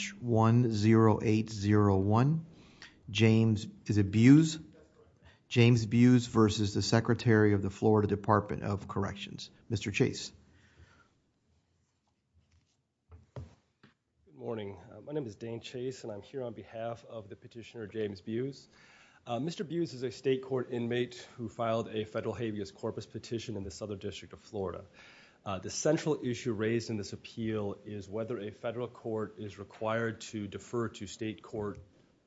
James Buhs v. the Secretary of the Florida Department of Corrections. Mr. Chase. Good morning. My name is Dane Chase and I'm here on behalf of the petitioner James Buhs. Mr. Buhs is a state court inmate who filed a federal habeas corpus petition in the Southern District of Florida. The central issue raised in this appeal is whether a federal court is required to defer to state court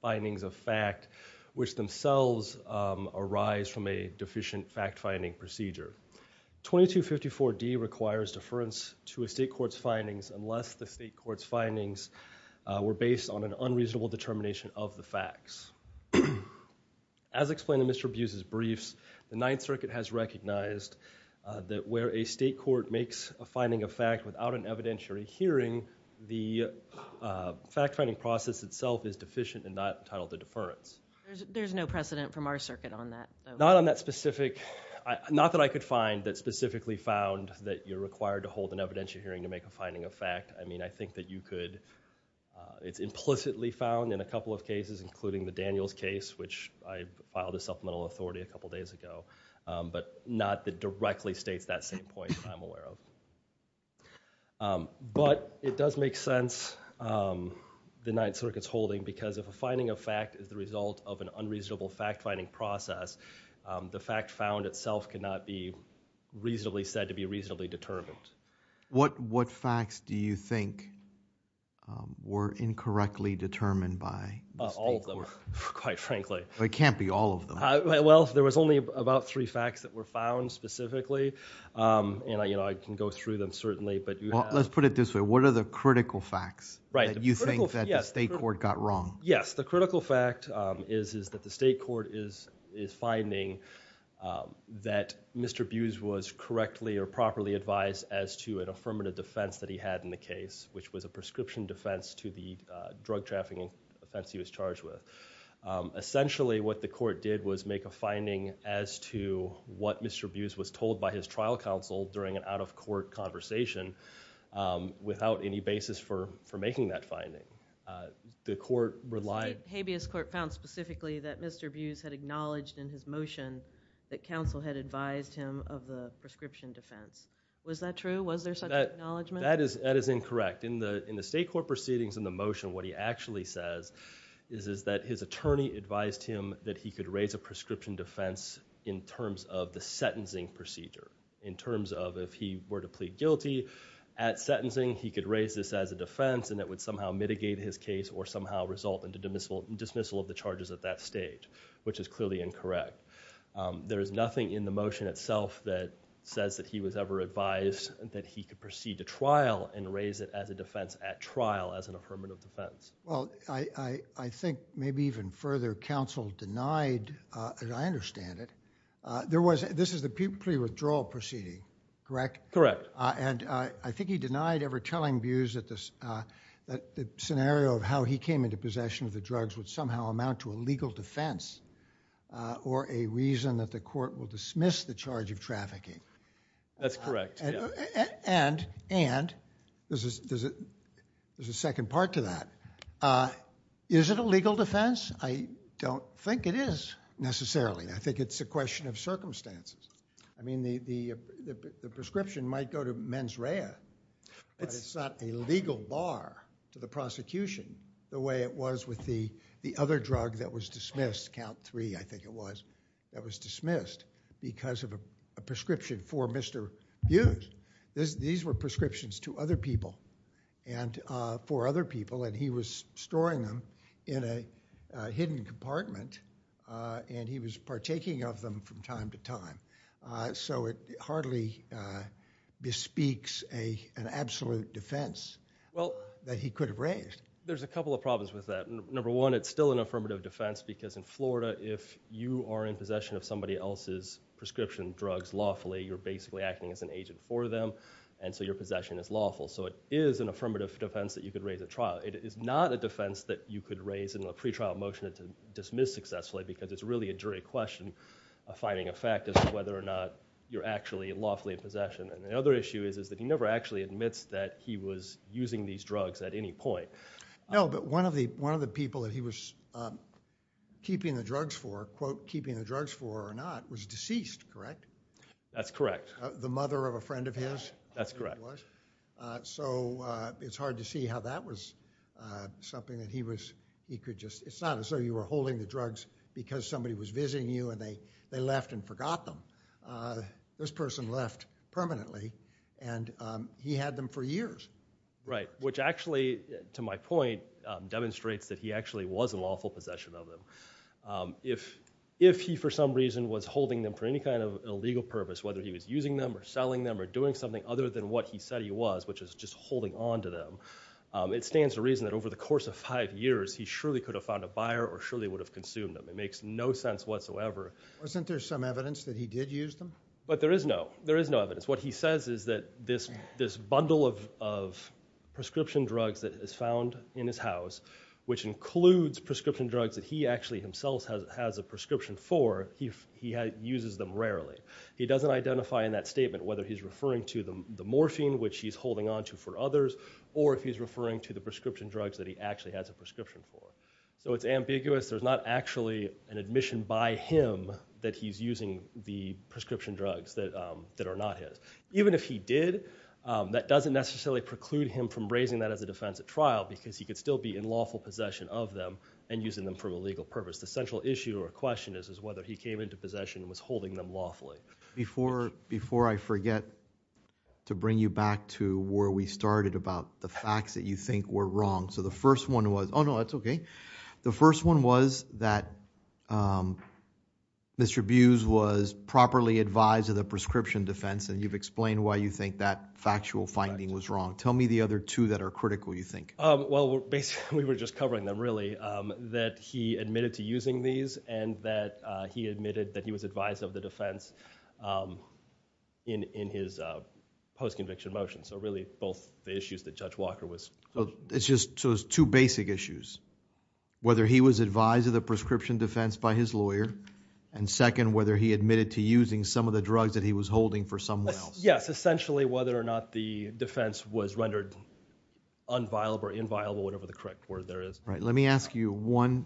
findings of fact which themselves arise from a deficient fact-finding procedure. 2254 D requires deference to a state court's findings unless the state court's findings were based on an unreasonable determination of the facts. As explained in Mr. Buhs' briefs, the Ninth Circuit has recognized that where a state court makes a finding of hearing, the fact-finding process itself is deficient and not entitled to deference. There's no precedent from our circuit on that. Not on that specific, not that I could find that specifically found that you're required to hold an evidentiary hearing to make a finding of fact. I mean I think that you could, it's implicitly found in a couple of cases including the Daniels case which I filed a supplemental authority a couple days ago but not that directly states that same point I'm aware of. But it does make sense the Ninth Circuit's holding because if a finding of fact is the result of an unreasonable fact-finding process, the fact found itself cannot be reasonably said to be reasonably determined. What facts do you think were incorrectly determined by? All of them, quite frankly. It can't be all of them. Well, there was only about three facts that were found specifically and I can go through them certainly. Let's put it this way, what are the critical facts that you think that the state court got wrong? Yes, the critical fact is that the state court is finding that Mr. Buhs was correctly or properly advised as to an affirmative defense that he had in the case which was a prescription defense to the drug trafficking offense he was charged with. Essentially what the court did was make a finding as to what Mr. Buhs was told by his trial counsel during an out-of-court conversation without any basis for making that finding. The court relied. The habeas court found specifically that Mr. Buhs had acknowledged in his motion that counsel had advised him of the prescription defense. Was that true? Was there such an acknowledgment? That is incorrect. In the state court proceedings in the motion, what he actually says is that his attorney advised him that he could raise a prescription defense in terms of the sentencing procedure. In terms of if he were to plead guilty at sentencing, he could raise this as a defense and that would somehow mitigate his case or somehow result in the dismissal of the charges at that stage, which is clearly incorrect. There is nothing in the motion itself that says that he was ever advised that he could proceed to trial and raise it as a defense at trial as an affirmative defense. I think maybe even further, counsel denied, and I understand it, this is the pre-withdrawal proceeding, correct? Correct. I think he denied ever telling Buhs that the scenario of how he came into possession of the drugs would somehow amount to a legal defense or a reason that the court will dismiss the charge of trafficking. That's correct. There's a second part to that. Is it a legal defense? I don't think it is necessarily. I think it's a question of circumstances. I mean, the prescription might go to mens rea, but it's not a legal bar to the prosecution the way it was with the other drug that was dismissed, count three I think it was, that was dismissed because of a prescription for Mr. Hughes. These were prescriptions to other people and for other people and he was storing them in a hidden compartment and he was partaking of them from time to time. It hardly bespeaks an absolute defense that he could have raised. Well, there's a couple of problems with that. Number one, it's still an affirmative defense because in Florida, if you are in possession of somebody else's prescription drugs lawfully, you're basically acting as an agent for them and so your possession is lawful. It is an affirmative defense that you could raise at trial. It is not a defense that you could raise in a pre-trial motion to dismiss successfully because it's really a jury question of finding a fact as to whether or not you're actually lawfully in possession. The other issue is that he never actually admits that he was using these keeping the drugs for, quote, keeping the drugs for or not, was deceased, correct? That's correct. The mother of a friend of his? That's correct. So it's hard to see how that was something that he was, he could just, it's not as though you were holding the drugs because somebody was visiting you and they left and forgot them. This person left permanently and he had them for years. Right, which actually, to my point, demonstrates that he actually was in lawful possession of them. If he for some reason was holding them for any kind of illegal purpose, whether he was using them or selling them or doing something other than what he said he was, which is just holding on to them, it stands to reason that over the course of five years he surely could have found a buyer or surely would have consumed them. It makes no sense whatsoever. Wasn't there some evidence that he did use them? But there is no, there is no evidence. What he says is that this bundle of prescription drugs that is found in his house, which includes prescription drugs that he actually himself has a prescription for, he uses them rarely. He doesn't identify in that statement whether he's referring to the morphine, which he's holding onto for others, or if he's referring to the prescription drugs that he actually has a prescription for. So it's ambiguous, there's not actually an admission by him that he's using the prescription drugs that are not his. Even if he did, that doesn't necessarily preclude him from raising that as a defense at trial because he could still be in lawful possession of them and using them for illegal purpose. The central issue or question is whether he came into possession and was holding them lawfully. Before I forget to bring you back to where we started about the facts that you think were wrong. The first one was that Mr. Buse was properly advised of the prescription defense and you've explained why you think that factual finding was wrong. Tell me the other two that are critical you think. Well, we were just covering them really. That he admitted to using these and that he admitted that he was advised of the defense in his post-conviction motion. So really both the... it's just two basic issues. Whether he was advised of the prescription defense by his lawyer and second, whether he admitted to using some of the drugs that he was holding for someone else. Yes, essentially whether or not the defense was rendered unviable or inviolable, whatever the correct word there is. Right. Let me ask you one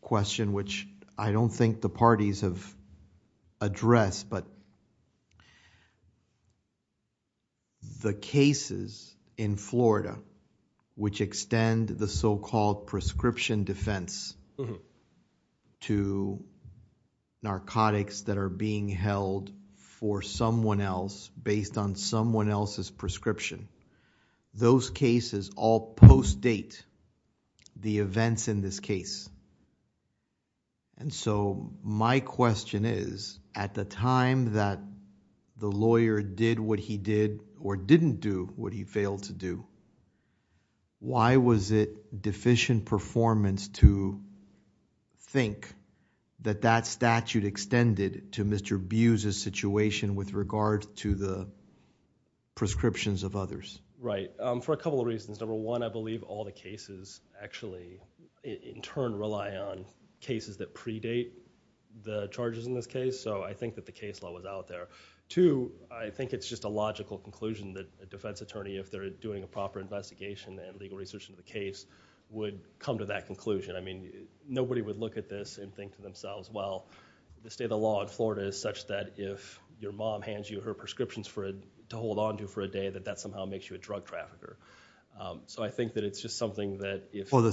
question which I don't think the parties have addressed, but the cases in Florida which extend the so-called prescription defense to narcotics that are being held for someone else based on someone else's prescription. Those cases all post-date the events in this case. So my question is, at the time that the lawyer did what he did or didn't do what he failed to do, why was it deficient performance to think that that statute extended to Mr. Buse's situation with regard to the prescriptions of others? Right. For a couple of reasons. Number one, I believe all the cases actually in turn rely on cases that predate the charges in this case. So I think that the case law was out there. Two, I think it's just a logical conclusion that a defense attorney, if they're doing a proper investigation and legal research into the case, would come to that conclusion. I mean, nobody would look at this and think to themselves, well, the state of the law in Florida is such that if your mom hands you her prescriptions to hold onto for a day that that somehow makes you a drug trafficker. So I think that it's just something that... Well, the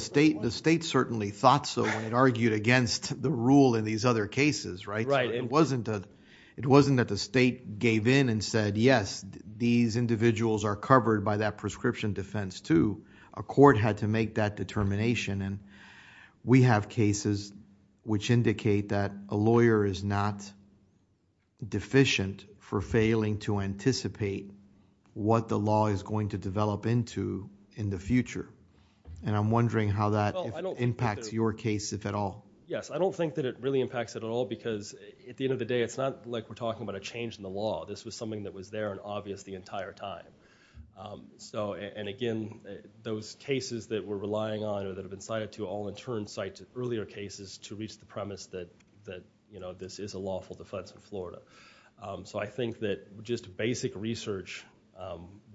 state certainly thought so when it argued against the rule in these other cases, right? It wasn't that the state gave in and said, yes, these individuals are covered by that prescription defense too. A court had to make that determination. We have cases which indicate that a lawyer is not deficient for failing to anticipate what the law is going to develop into in the future. I'm wondering how that impacts your case, if at all. Yes. I don't think that it really impacts it at all because at the end of the day, it's not like we're talking about a change in the law. This was something that was there and obvious the entire time. Again, those cases that we're relying on or that have been cited to all in turn cite to earlier cases to reach the premise that this is a lawful defense in Florida. I think that just basic research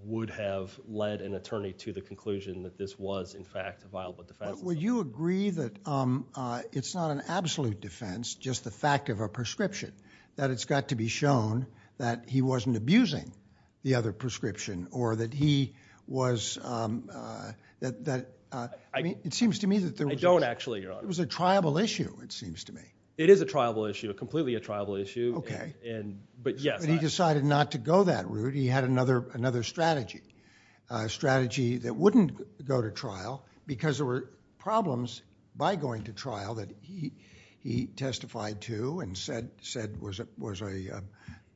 would have led an attorney to the conclusion that this was in fact a viable defense. Would you agree that it's not an absolute defense, just the fact of a prescription? That it's got to be shown that he wasn't abusing the other prescription or that he was... it seems to me that there was... I don't actually, Your Honor. It was a triable issue, it seems to me. It is a triable issue, completely a triable issue. Okay. Yes. He decided not to go that route. He had another strategy, a strategy that wouldn't go to trial because there were problems by going to trial that he testified to and said was a...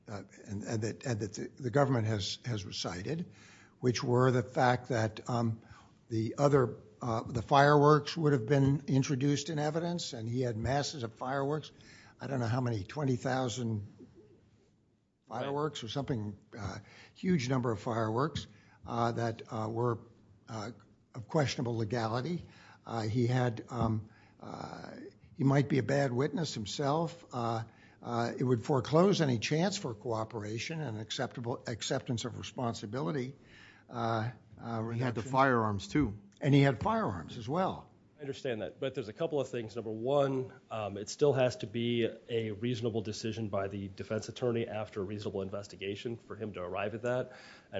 that the government has recited, which were the fact that the other... the fireworks would have been introduced in evidence and he had masses of fireworks. I don't know how many, 20,000 fireworks or something, a huge number of fireworks that were of questionable legality. He had... he might be a bad witness himself. It would foreclose any chance for cooperation and acceptance of responsibility. He had the firearms too. And he had firearms as well. I understand that, but there's a couple of things. Number one, it still has to be a reasonable decision by the defense attorney after a reasonable investigation for him to arrive at that.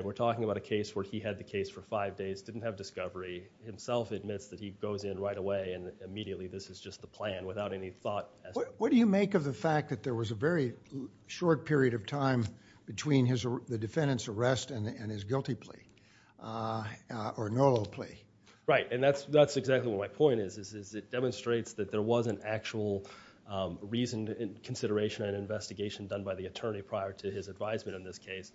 We're talking about a case where he had the case for five days, didn't have discovery. Himself admits that he goes in right away and immediately this is just the plan without any thought. What do you make of the fact that there was a very short period of time between the defendant's arrest and his guilty plea or no-law plea? Right, and that's exactly what my point is. It demonstrates that there was an actual reason and consideration and investigation done by the attorney prior to his advisement on this case.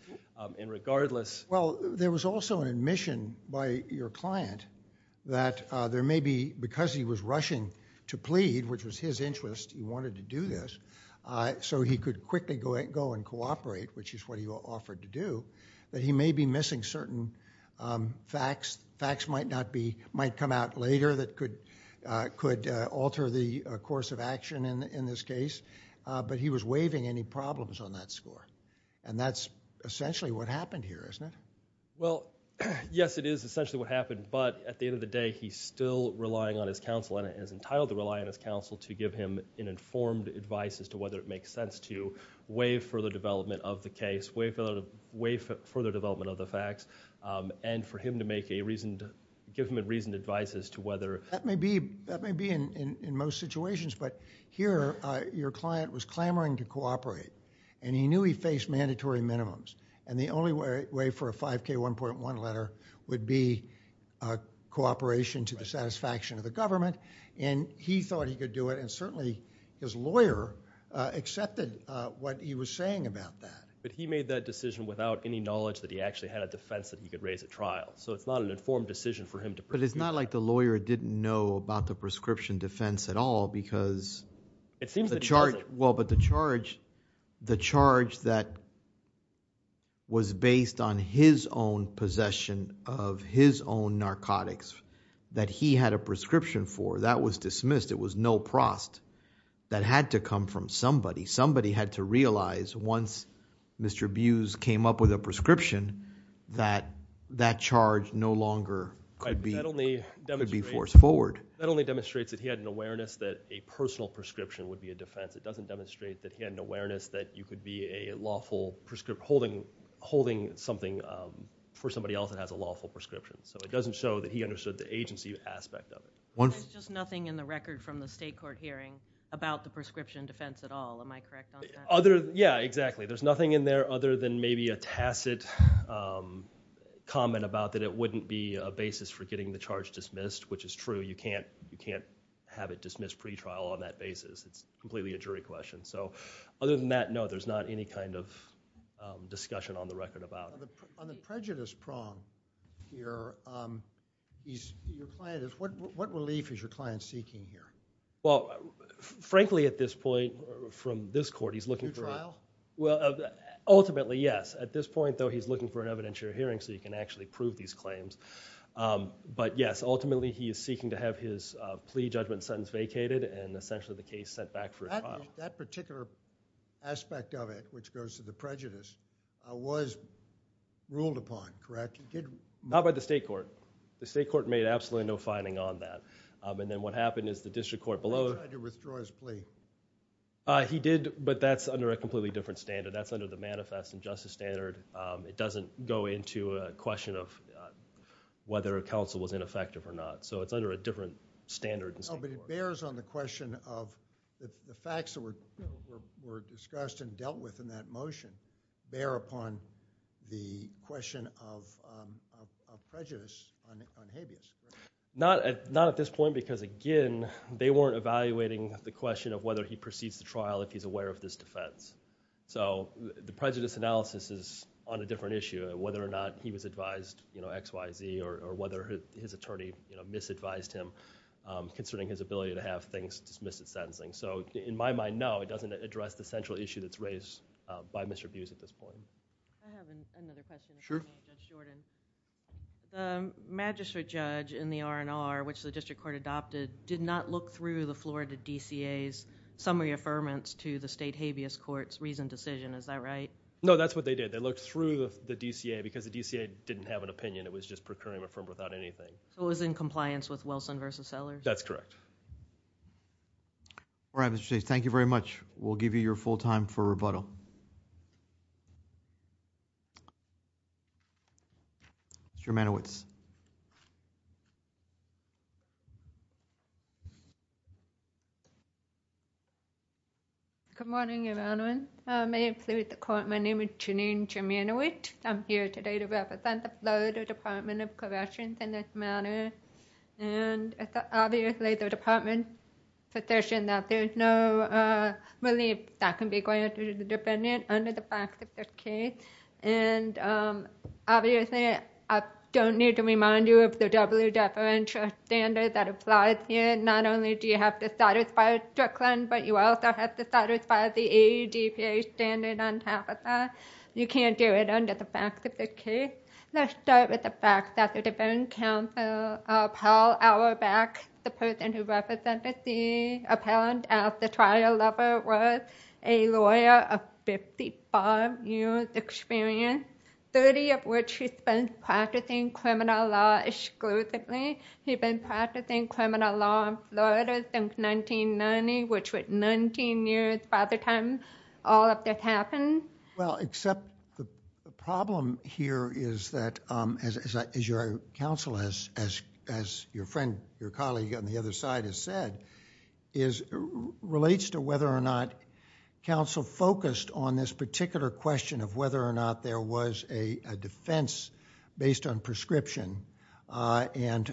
And regardless... Well, there was also an admission by your client that there may be, because he was rushing to plead, which was his interest, he wanted to do this, so he could quickly go and cooperate, which is what he offered to do, that he may be missing certain facts. Facts might come out later that could alter the course of action in this case. But he was waiving any problems on that score. And that's essentially what happened here, isn't it? Well, yes, it is essentially what happened. But at the end of the day, he's still relying on his counsel and is entitled to rely on his counsel to give him an informed advice as to whether it makes sense to waive further development of the case, waive further development of the facts, and for him to give him a reasoned advice as to whether... That may be in most situations, but here your client was clamoring to cooperate and he knew he faced mandatory minimums. And the only way for a 5K1.1 letter would be cooperation to the satisfaction of the government, and he thought he could do it, and certainly his lawyer accepted what he was saying about that. But he made that decision without any knowledge that he actually had a defense that he could raise at trial. So it's not an informed decision for him to... But it's not like the lawyer didn't know about the prescription defense at all, because... It seems that he doesn't. Well, but the charge, the charge that was based on his own possession of his own narcotics that he had a prescription for, that was dismissed. It was no prost. That had to come from somebody. Somebody had to realize once Mr. Buse came up with a prescription that that charge no longer could be... That only demonstrates...... could be force forward. That only demonstrates that he had an awareness that a personal prescription would be a defense. It doesn't demonstrate that he had an awareness that you could be a lawful... holding something for somebody else that has a lawful prescription. So it doesn't show that he understood the agency aspect of it. There's just nothing in the record from the state court hearing about the prescription defense at all. Am I correct on that? Yeah, exactly. There's nothing in there other than maybe a tacit comment about that it wouldn't be a basis for getting the charge dismissed, which is true. You can't have it dismissed pretrial on that basis. It's completely a jury question. So other than that, no, there's not any kind of discussion on the record about... On the prejudice prong here, your client is... what relief is your client seeking here? Well, frankly at this point from this court, he's looking for... New trial? Well, ultimately, yes. At this point, though, he's looking for an evidentiary hearing so he can actually prove these claims. But yes, ultimately he is seeking to have his plea judgment sentence vacated and essentially the case sent back for a trial. That particular aspect of it, which goes to the prejudice, was ruled upon, correct? Not by the state court. The state court made absolutely no finding on that. And then what happened is the district court below... They tried to withdraw his plea. He did, but that's under a completely different standard. That's under the Manifest and Justice Standard. It doesn't go into a question of whether a counsel was ineffective or not. So it's under a different standard than... No, but it bears on the question of... the facts that were discussed and dealt with in that motion bear upon the question of prejudice on habeas. Not at this point because again, they weren't evaluating the question of whether he proceeds to trial if he's aware of this defense. So the prejudice analysis is on a different issue of whether or not he was advised X, Y, Z or whether his attorney misadvised him concerning his ability to have things dismiss his sentencing. So in my mind, no, it doesn't address the central issue that's raised by Mr. Buse at this point. I have another question. Sure. The magistrate judge in the R&R, which the district court adopted, did not look through the floor of the DCA's summary affirmance to the state habeas court's reasoned decision. Is that right? No, that's what they did. They looked through the DCA because the DCA didn't have an opinion. It was just procuring a firm without anything. So it was in compliance with Wilson v. Sellers? That's correct. All right, Mr. Chief. Thank you very much. We'll give you your full time for rebuttal. Ms. Germanoitz. Good morning, Your Honor. May it please the court, my name is Janine Germanoitz. I'm here today to represent the Florida Department of Corrections in this matter. And it's obviously the department's position that there's no relief that can be granted to the defendant under the facts of this case. And obviously, I don't need to remind you of the W. Deferential standard that applies here. Not only do you have to satisfy Strickland, but you also have to satisfy the AEDPA standard on top of that. You can't do it under the facts of this case. Let's start with the fact that the defense counsel, Paul Auerbach, the person who represented the trial level was a lawyer of 55 years experience, 30 of which he spent practicing criminal law exclusively. He'd been practicing criminal law in Florida since 1990, which was 19 years by the time all of this happened. Well, except the problem here is that, as your counsel, as your friend, your colleague on the other side has said, relates to whether or not counsel focused on this particular question of whether or not there was a defense based on prescription and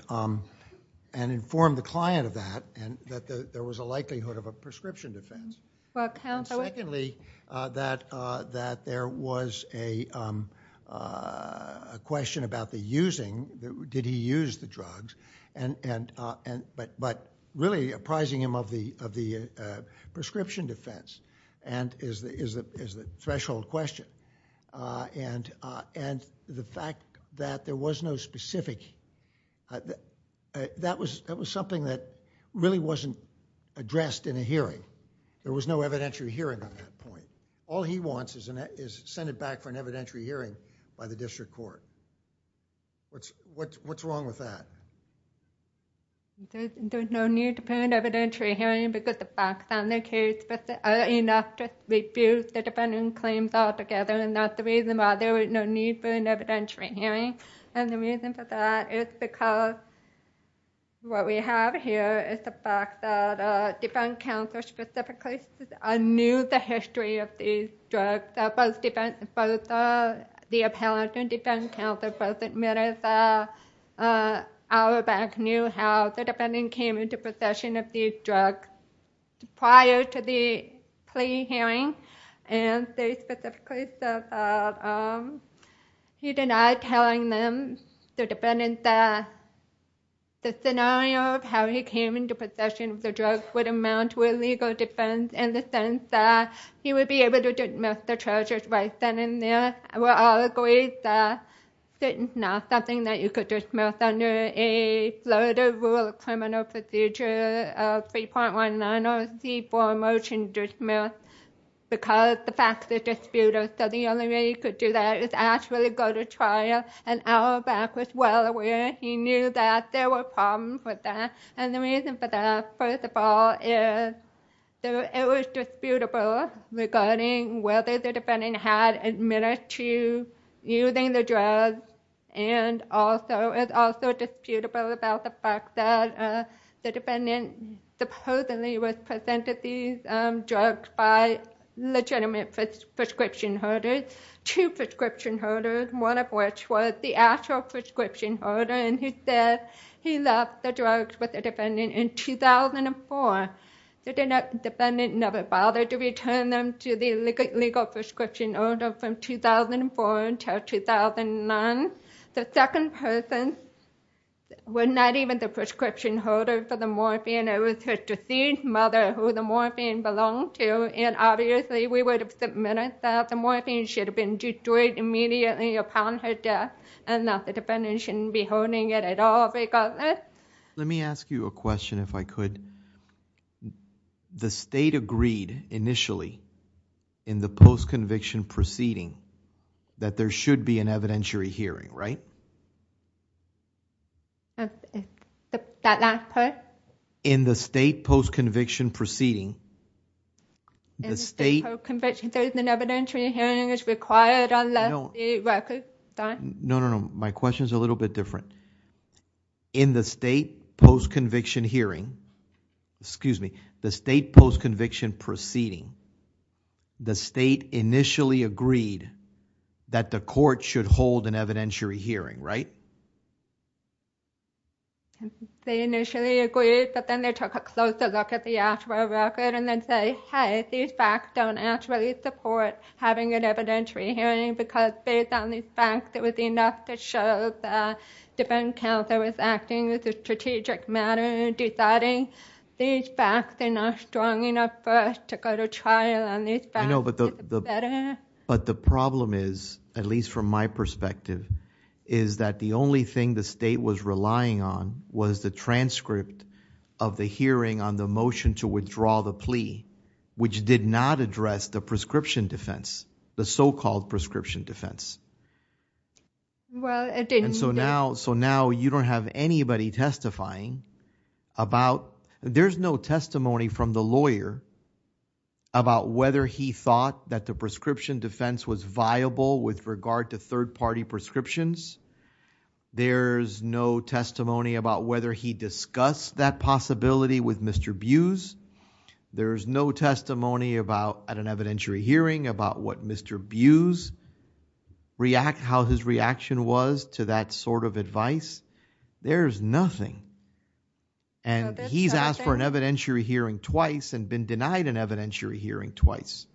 informed the client of that, and that there was a likelihood of a prescription defense. Well, counsel... And secondly, that there was a question about the using. Did he use the drugs? But really apprising him of the prescription defense is the threshold question. The fact that there was no specific... that was something that really wasn't addressed in a hearing. There was no evidentiary hearing on that point. All he wants is to send it back for an evidentiary hearing by the district court. What's wrong with that? There's no need for an evidentiary hearing because the facts on the case are enough to refute the defendant's claims altogether, and that's the reason why there was no need for an evidentiary hearing. And the reason for that is because what we have here is the fact that a defense counsel specifically knew the history of these drugs. The appellant and defense counsel both admitted that Auerbach knew how the defendant came into possession of these drugs prior to the plea hearing. And they specifically said that he denied telling them, the defendant, that the scenario of how he came into possession of the drugs would amount to a legal defense in the sense that he would be able to dismiss the charges right then and there. We all agreed that it's not something that you could dismiss under a Florida rule of criminal procedure 3.19 or C-4 motion dismiss because the facts are disputed. So the only way you could do that is actually go to trial, and Auerbach was well aware. He knew that there were problems with that. And the reason for that, first of all, is that it was disputable regarding whether the defendant had admitted to using the drugs, and it's also disputable about the fact that the defendant supposedly was presented these drugs by legitimate prescription holders, two prescription holders, one of which was the actual prescription holder, and he said he left the drugs with the defendant in 2004. The defendant never bothered to return them to the legal prescription holder from 2004 until 2009. The second person was not even the prescription holder for the morphine. It was his deceased mother who the morphine belonged to, and obviously we would have submitted that the morphine should have been destroyed immediately upon her death and that the defendant shouldn't be holding it at all regardless. Let me ask you a question, if I could. The state agreed initially in the post-conviction proceeding that there should be an evidentiary hearing, right? That last part? In the state post-conviction proceeding, the state... In the state post-conviction proceeding, an evidentiary hearing is required unless it The question is a little bit different. In the state post-conviction hearing, excuse me, the state post-conviction proceeding, the state initially agreed that the court should hold an evidentiary hearing, right? They initially agreed, but then they took a closer look at the actual record and they say, hey, these facts don't actually support having an evidentiary hearing because based on these facts, it was enough to show the defense counsel was acting as a strategic matter deciding these facts are not strong enough for us to go to trial on these facts. I know, but the problem is, at least from my perspective, is that the only thing the state was relying on was the transcript of the hearing on the motion to withdraw the And so now you don't have anybody testifying about... There's no testimony from the lawyer about whether he thought that the prescription defense was viable with regard to third-party prescriptions. There's no testimony about whether he discussed that possibility with Mr. Buse. There's no testimony at an evidentiary hearing about what Mr. Buse, how his reaction was to that sort of advice. There's nothing. And he's asked for an evidentiary hearing twice and been denied an evidentiary hearing twice.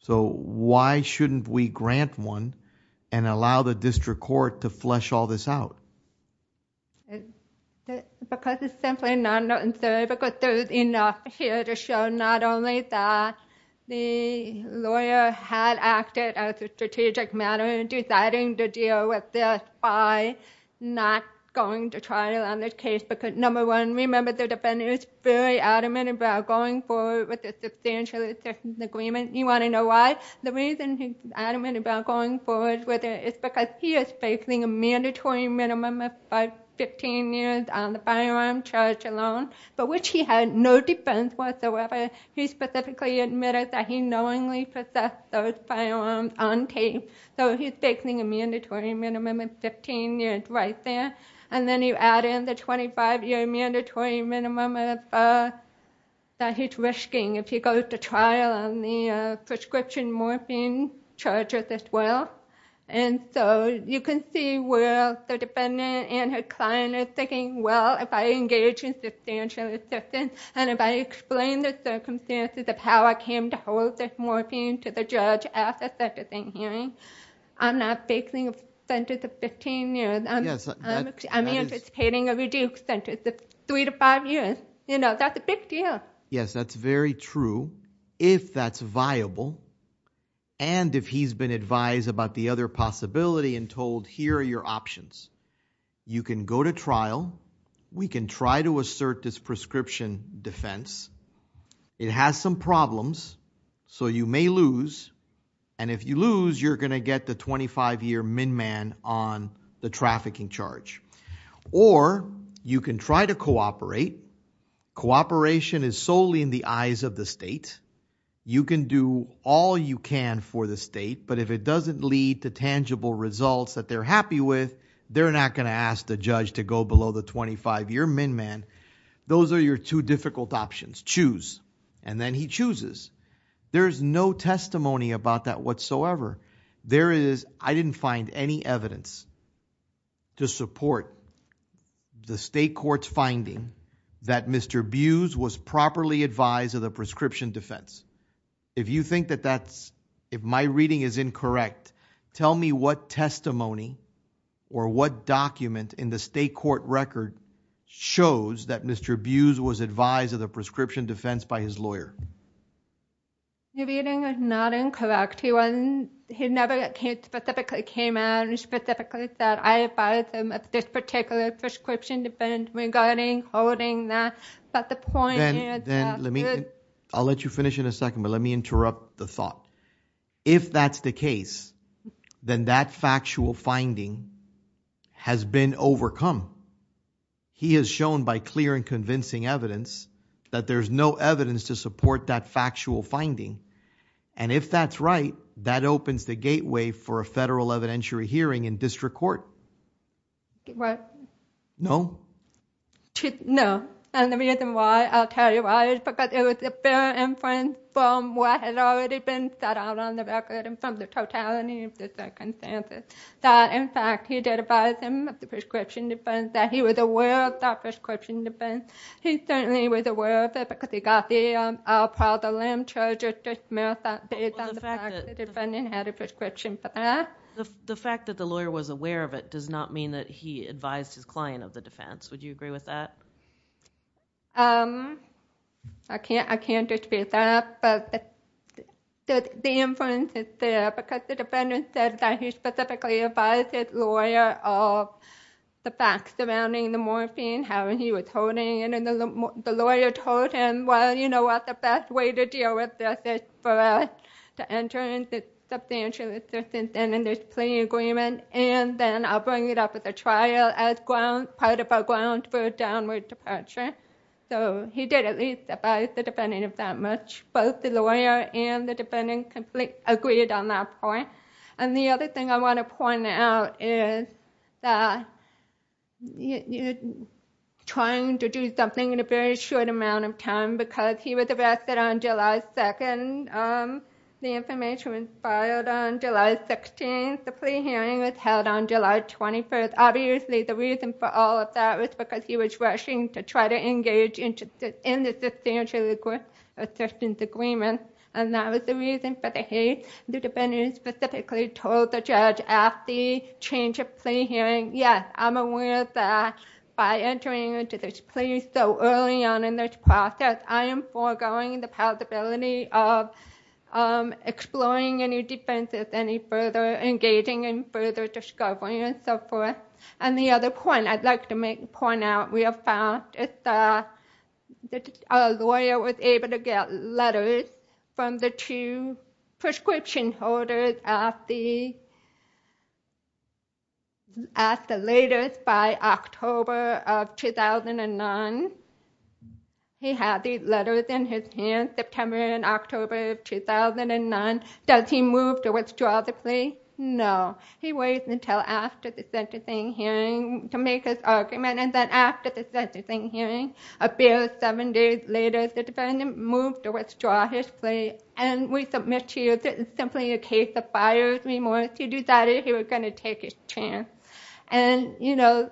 So why shouldn't we grant one and allow the district court to flesh all this out? Because it's simply not necessary because there's enough here to show not only that the lawyer had acted as a strategic matter in deciding to deal with this, why not going to trial on this case? Because, number one, remember the defendant is very adamant about going forward with the substantial assistance agreement. You want to know why? The reason he's adamant about going forward with it is because he is facing a mandatory minimum of 15 years on the firearm charge alone, but which he had no defense whatsoever. He specifically admitted that he knowingly possessed those firearms on tape. So he's facing a mandatory minimum of 15 years right there. And then you add in the 25-year prescription morphine charge as well. And so you can see where the defendant and her client are thinking, well, if I engage in substantial assistance and if I explain the circumstances of how I came to hold this morphine to the judge at the sentencing hearing, I'm not facing a sentence of 15 years. I'm anticipating a reduced sentence of three to five years. Yes, that's very true. If that's viable and if he's been advised about the other possibility and told, here are your options. You can go to trial. We can try to assert this prescription defense. It has some problems, so you may lose. And if you lose, you're going to get the 25-year min-man on the trafficking charge. Or you can try to cooperate. Cooperation is solely in the eyes of the state. You can do all you can for the state, but if it doesn't lead to tangible results that they're happy with, they're not going to ask the judge to go below the 25-year min-man. Those are your two difficult options. Choose. And then he chooses. There's no testimony about that whatsoever. There is, I didn't find any evidence to support the state court's finding that Mr. Buse was properly advised of the prescription defense. If you think that that's, if my reading is incorrect, tell me what testimony or what document in the state court record shows that Mr. Buse was advised of the prescription defense by his lawyer. Your reading is not incorrect. He never specifically came out and specifically said, I advised him of this particular prescription defense regarding holding that. I'll let you finish in a second, but let me interrupt the thought. If that's the case, then that factual finding has been overcome. He has shown by clear and convincing evidence that there's no evidence to support that factual finding. And if that's right, that opens the gateway for a federal evidentiary hearing in district court. What? No? No. And the reason why, I'll tell you why, is because it was a fair inference from what had already been set out on the record and from the totality of the circumstances. That, in fact, he did advise him of the prescription defense, that he was aware of that prescription defense. He certainly was aware of it because he got the al-Qaeda lambshell justice marathon based on the fact that the defendant had a prescription for that. The fact that the lawyer was aware of it does not mean that he advised his client of the defense. Would you agree with that? I can't dispute that, but the inference is there because the defendant said that he specifically advised his lawyer of the facts surrounding the morphine, how he was holding it, and the lawyer told him, well, you know what, the best way to deal with this is for us to enter into substantial assistance in this plea agreement, and then I'll bring it up at the trial as part of our grounds for a downward departure. So he did at least advise the defendant of that much. Both the lawyer and the defendant agreed on that point. The other thing I want to point out is that he was trying to do something in a very short amount of time because he was arrested on July 2nd. The information was filed on July 16th. The plea hearing was held on July 21st. Obviously, the reason for all of that was because he was rushing to try to engage in the substantial legal assistance agreement, and that was the reason for the hate. The defendant specifically told the judge at the change of plea hearing, yes, I'm aware that by entering into this plea so early on in this process, I am foregoing the possibility of exploring any defenses, engaging in further discovery, and so forth. And the other point I'd like to point out real fast is that the lawyer was able to get letters from the two prescription holders at the latest by October of 2009. He had these letters in his hands, September and October of 2009. Does he move to withdraw the plea? No. He waits until after the sentencing hearing to make his argument, and then after the sentencing hearing appears seven days later, the defendant moves to withdraw his plea. And we submit to you that it's simply a case of buyer's remorse. He decided he was going to take his chance. And, you know,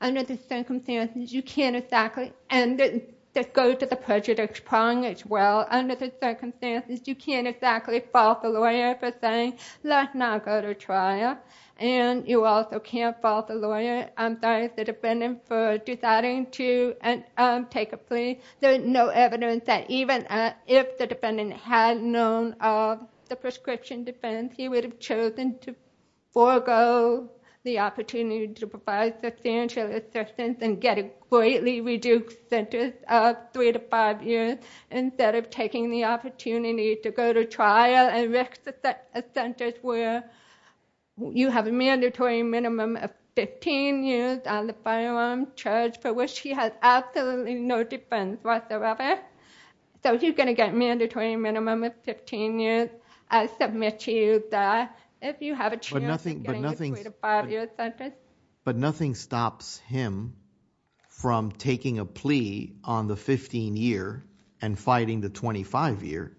under the circumstances, you can't exactly, and this goes to the prejudice prong as well. Under the circumstances, you can't exactly fault the lawyer for saying, let's not go to trial. And you also can't fault the lawyer, I'm sorry, the defendant for deciding to take a plea. There is no evidence that even if the defendant had known of the prescription defense, he would have chosen to forego the opportunity to provide substantial assistance and get a greatly reduced sentence of three to five years instead of taking the opportunity to go to trial and risk a sentence where you have a mandatory minimum of 15 years on the firearm charge for which he has absolutely no defense whatsoever. So he's going to get a mandatory minimum of 15 years. I submit to you that if you have a chance of getting a three to five year sentence. But nothing stops him from taking a plea on the 15 year and fighting the 25 year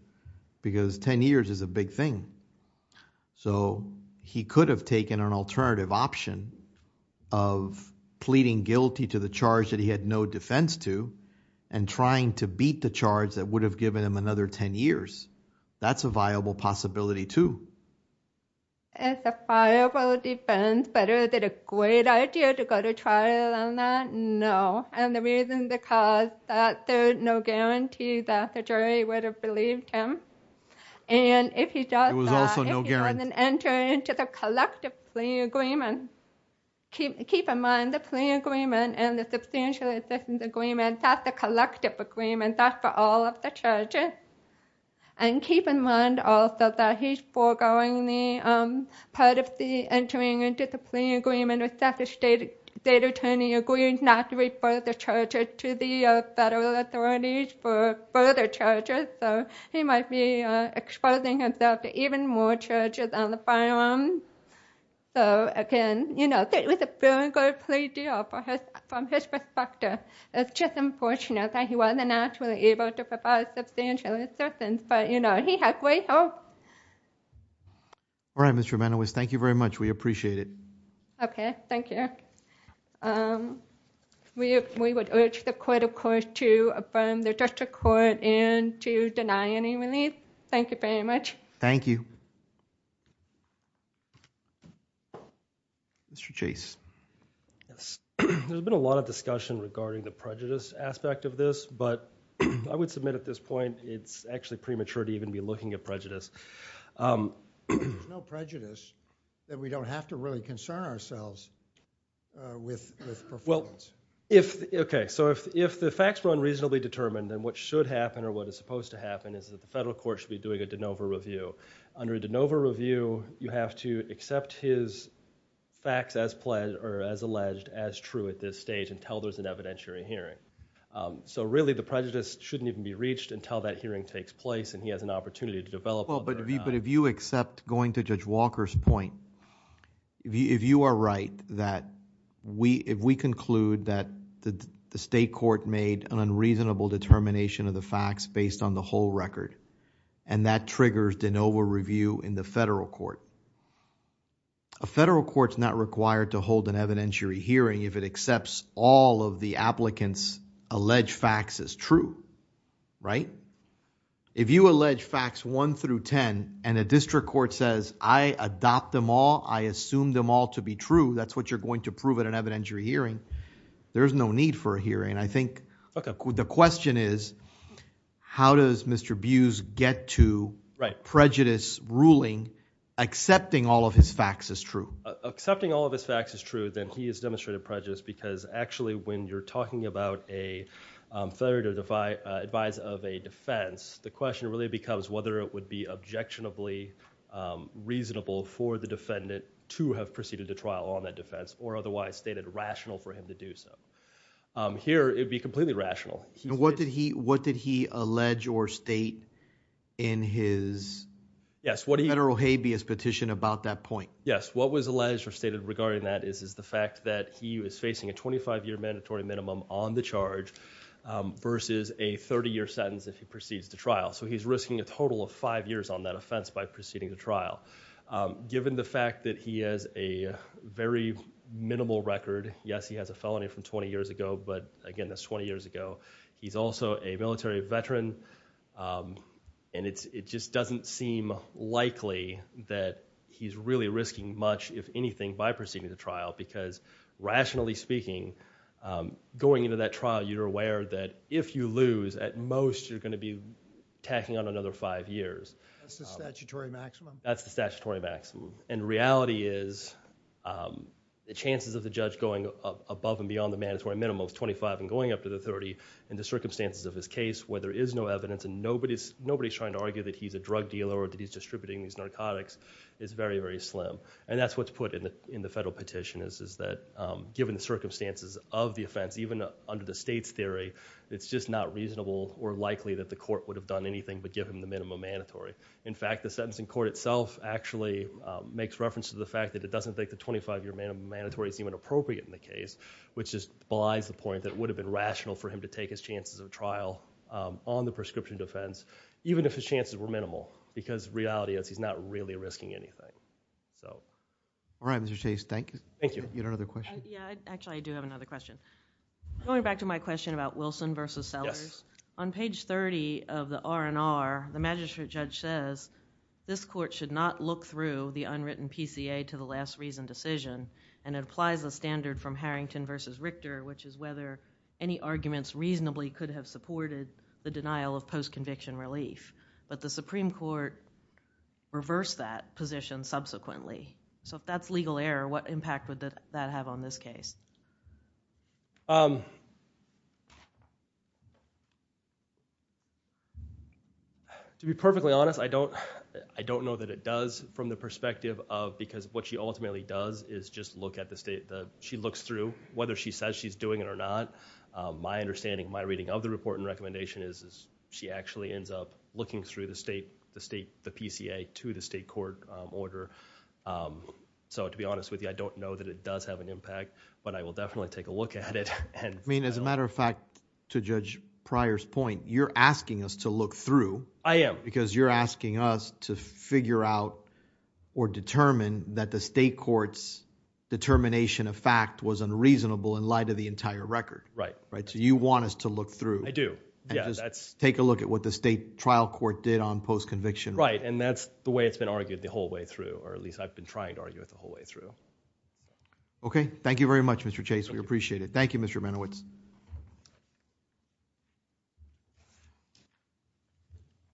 because 10 years is a big thing. So he could have taken an alternative option of pleading guilty to the charge that he had no defense to and trying to beat the charge that would have given him another 10 years. That's a viable possibility too. It's a viable defense, but is it a great idea to go to trial on that? No. And the reason is because there's no guarantee that the jury would have believed him. And if he doesn't enter into the collective plea agreement, keep in mind the plea agreement and the substantial assistance agreement, that's a collective agreement, that's for all of the charges. And keep in mind also that he's foregoing the part of the entering into the plea agreement if the state attorney agrees not to refer the charges to the federal authorities for further charges. So he might be exposing himself to even more charges on the firearms. So again, you know, it was a very good plea deal from his perspective. It's just unfortunate that he wasn't actually able to provide substantial assistance. But you know, he had great hope. All right, Ms. Tremenowis, thank you very much. We appreciate it. Thank you. We would urge the court, of course, to affirm the district court and to deny any relief. Thank you very much. Thank you. Mr. Chase. There's been a lot of discussion regarding the prejudice aspect of this, but I would submit at this point it's actually premature to even be looking at prejudice. There's no prejudice that we don't have to really concern ourselves with performance. Okay, so if the facts were unreasonably determined, then what should happen or what is supposed to happen is that the federal court should be doing a de novo review. Under a de novo review, you have to accept his facts as alleged as true at this stage until there's an evidentiary hearing. So really the prejudice shouldn't even be reached until that hearing takes place and he has an opportunity to develop... But if you accept, going to Judge Walker's point, if you are right that if we conclude that the state court made an unreasonable determination of the facts based on the whole record and that triggers de novo review in the federal court, a federal court's not required to hold an evidentiary hearing if it accepts all of the applicant's alleged facts as true, right? If you allege facts 1 through 10 and a district court says, I adopt them all, I assume them all to be true, that's what you're going to prove at an evidentiary hearing, there's no need for a hearing. I think the question is how does Mr. Buse get to prejudice ruling, accepting all of his facts as true? Accepting all of his facts as true, then he has demonstrated prejudice because actually when you're talking about a federal advisor of a defense, the question really becomes whether it would be objectionably reasonable for the defendant to have proceeded to trial on that defense or otherwise stated rational for him to do so. Here, it would be completely rational. What did he allege or state in his federal habeas petition about that point? Yes, what was alleged or stated regarding that is the fact that he was facing a 25-year mandatory minimum on the charge versus a 30-year sentence if he proceeds to trial. He's risking a total of five years on that offense by proceeding to trial. Given the fact that he has a very minimal record, yes, he has a felony from 20 years ago, but again, that's 20 years ago. He's also a military veteran and it just doesn't seem likely that he's really risking much, if anything, by proceeding to trial because rationally speaking, going into that trial, you're aware that if you lose, at most, you're going to be tacking on another five years. That's the statutory maximum? That's the statutory maximum. Reality is the chances of the judge going above and beyond the mandatory minimum of 25 and going up to the 30 in the circumstances of his case where there is no evidence and nobody's trying to argue that he's a drug dealer or that he's distributing these narcotics is very, very slim. That's what's put in the federal petition, is that given the circumstances of the offense, even under the state's theory, it's just not reasonable or likely that the court would have done anything but give him the minimum mandatory. In fact, the sentencing court itself actually makes reference to the fact that it doesn't make the 25-year mandatory seem inappropriate in the case, which just belies the point that it would have been rational for him to take his chances of trial on the prescription defense, even if his chances were minimal, because reality is he's not really risking anything. All right, Mr. Chase, thank you. Thank you. You had another question? Actually, I do have another question. Going back to my question about Wilson versus Sellers, on page 30 of the R&R, the magistrate judge says, this court should not look through the unwritten PCA to the last reason decision, and it applies the standard from Harrington versus Richter, which is whether any arguments reasonably could have supported the denial of post-conviction relief, but the Supreme Court reversed that position subsequently. If that's legal error, what impact would that have on this case? To be perfectly honest, I don't know that it does from the perspective of, because what she ultimately does is just look at the state that she looks through, whether she says she's doing it or not. My understanding, my reading of the report and recommendation is she actually ends up looking through the PCA to the state court order so to be honest with you, I don't know that it does have an impact, but I will definitely take a look at it. I mean, as a matter of fact, to Judge Pryor's point, you're asking us to look through. I am. Because you're asking us to figure out or determine that the state court's determination of fact was unreasonable in light of the entire record. Right. So you want us to look through. I do. Take a look at what the state trial court did on post-conviction. Right, and that's the way it's been argued or at least I've been trying to argue it the whole way through. Okay. Thank you very much, Mr. Chase. We appreciate it.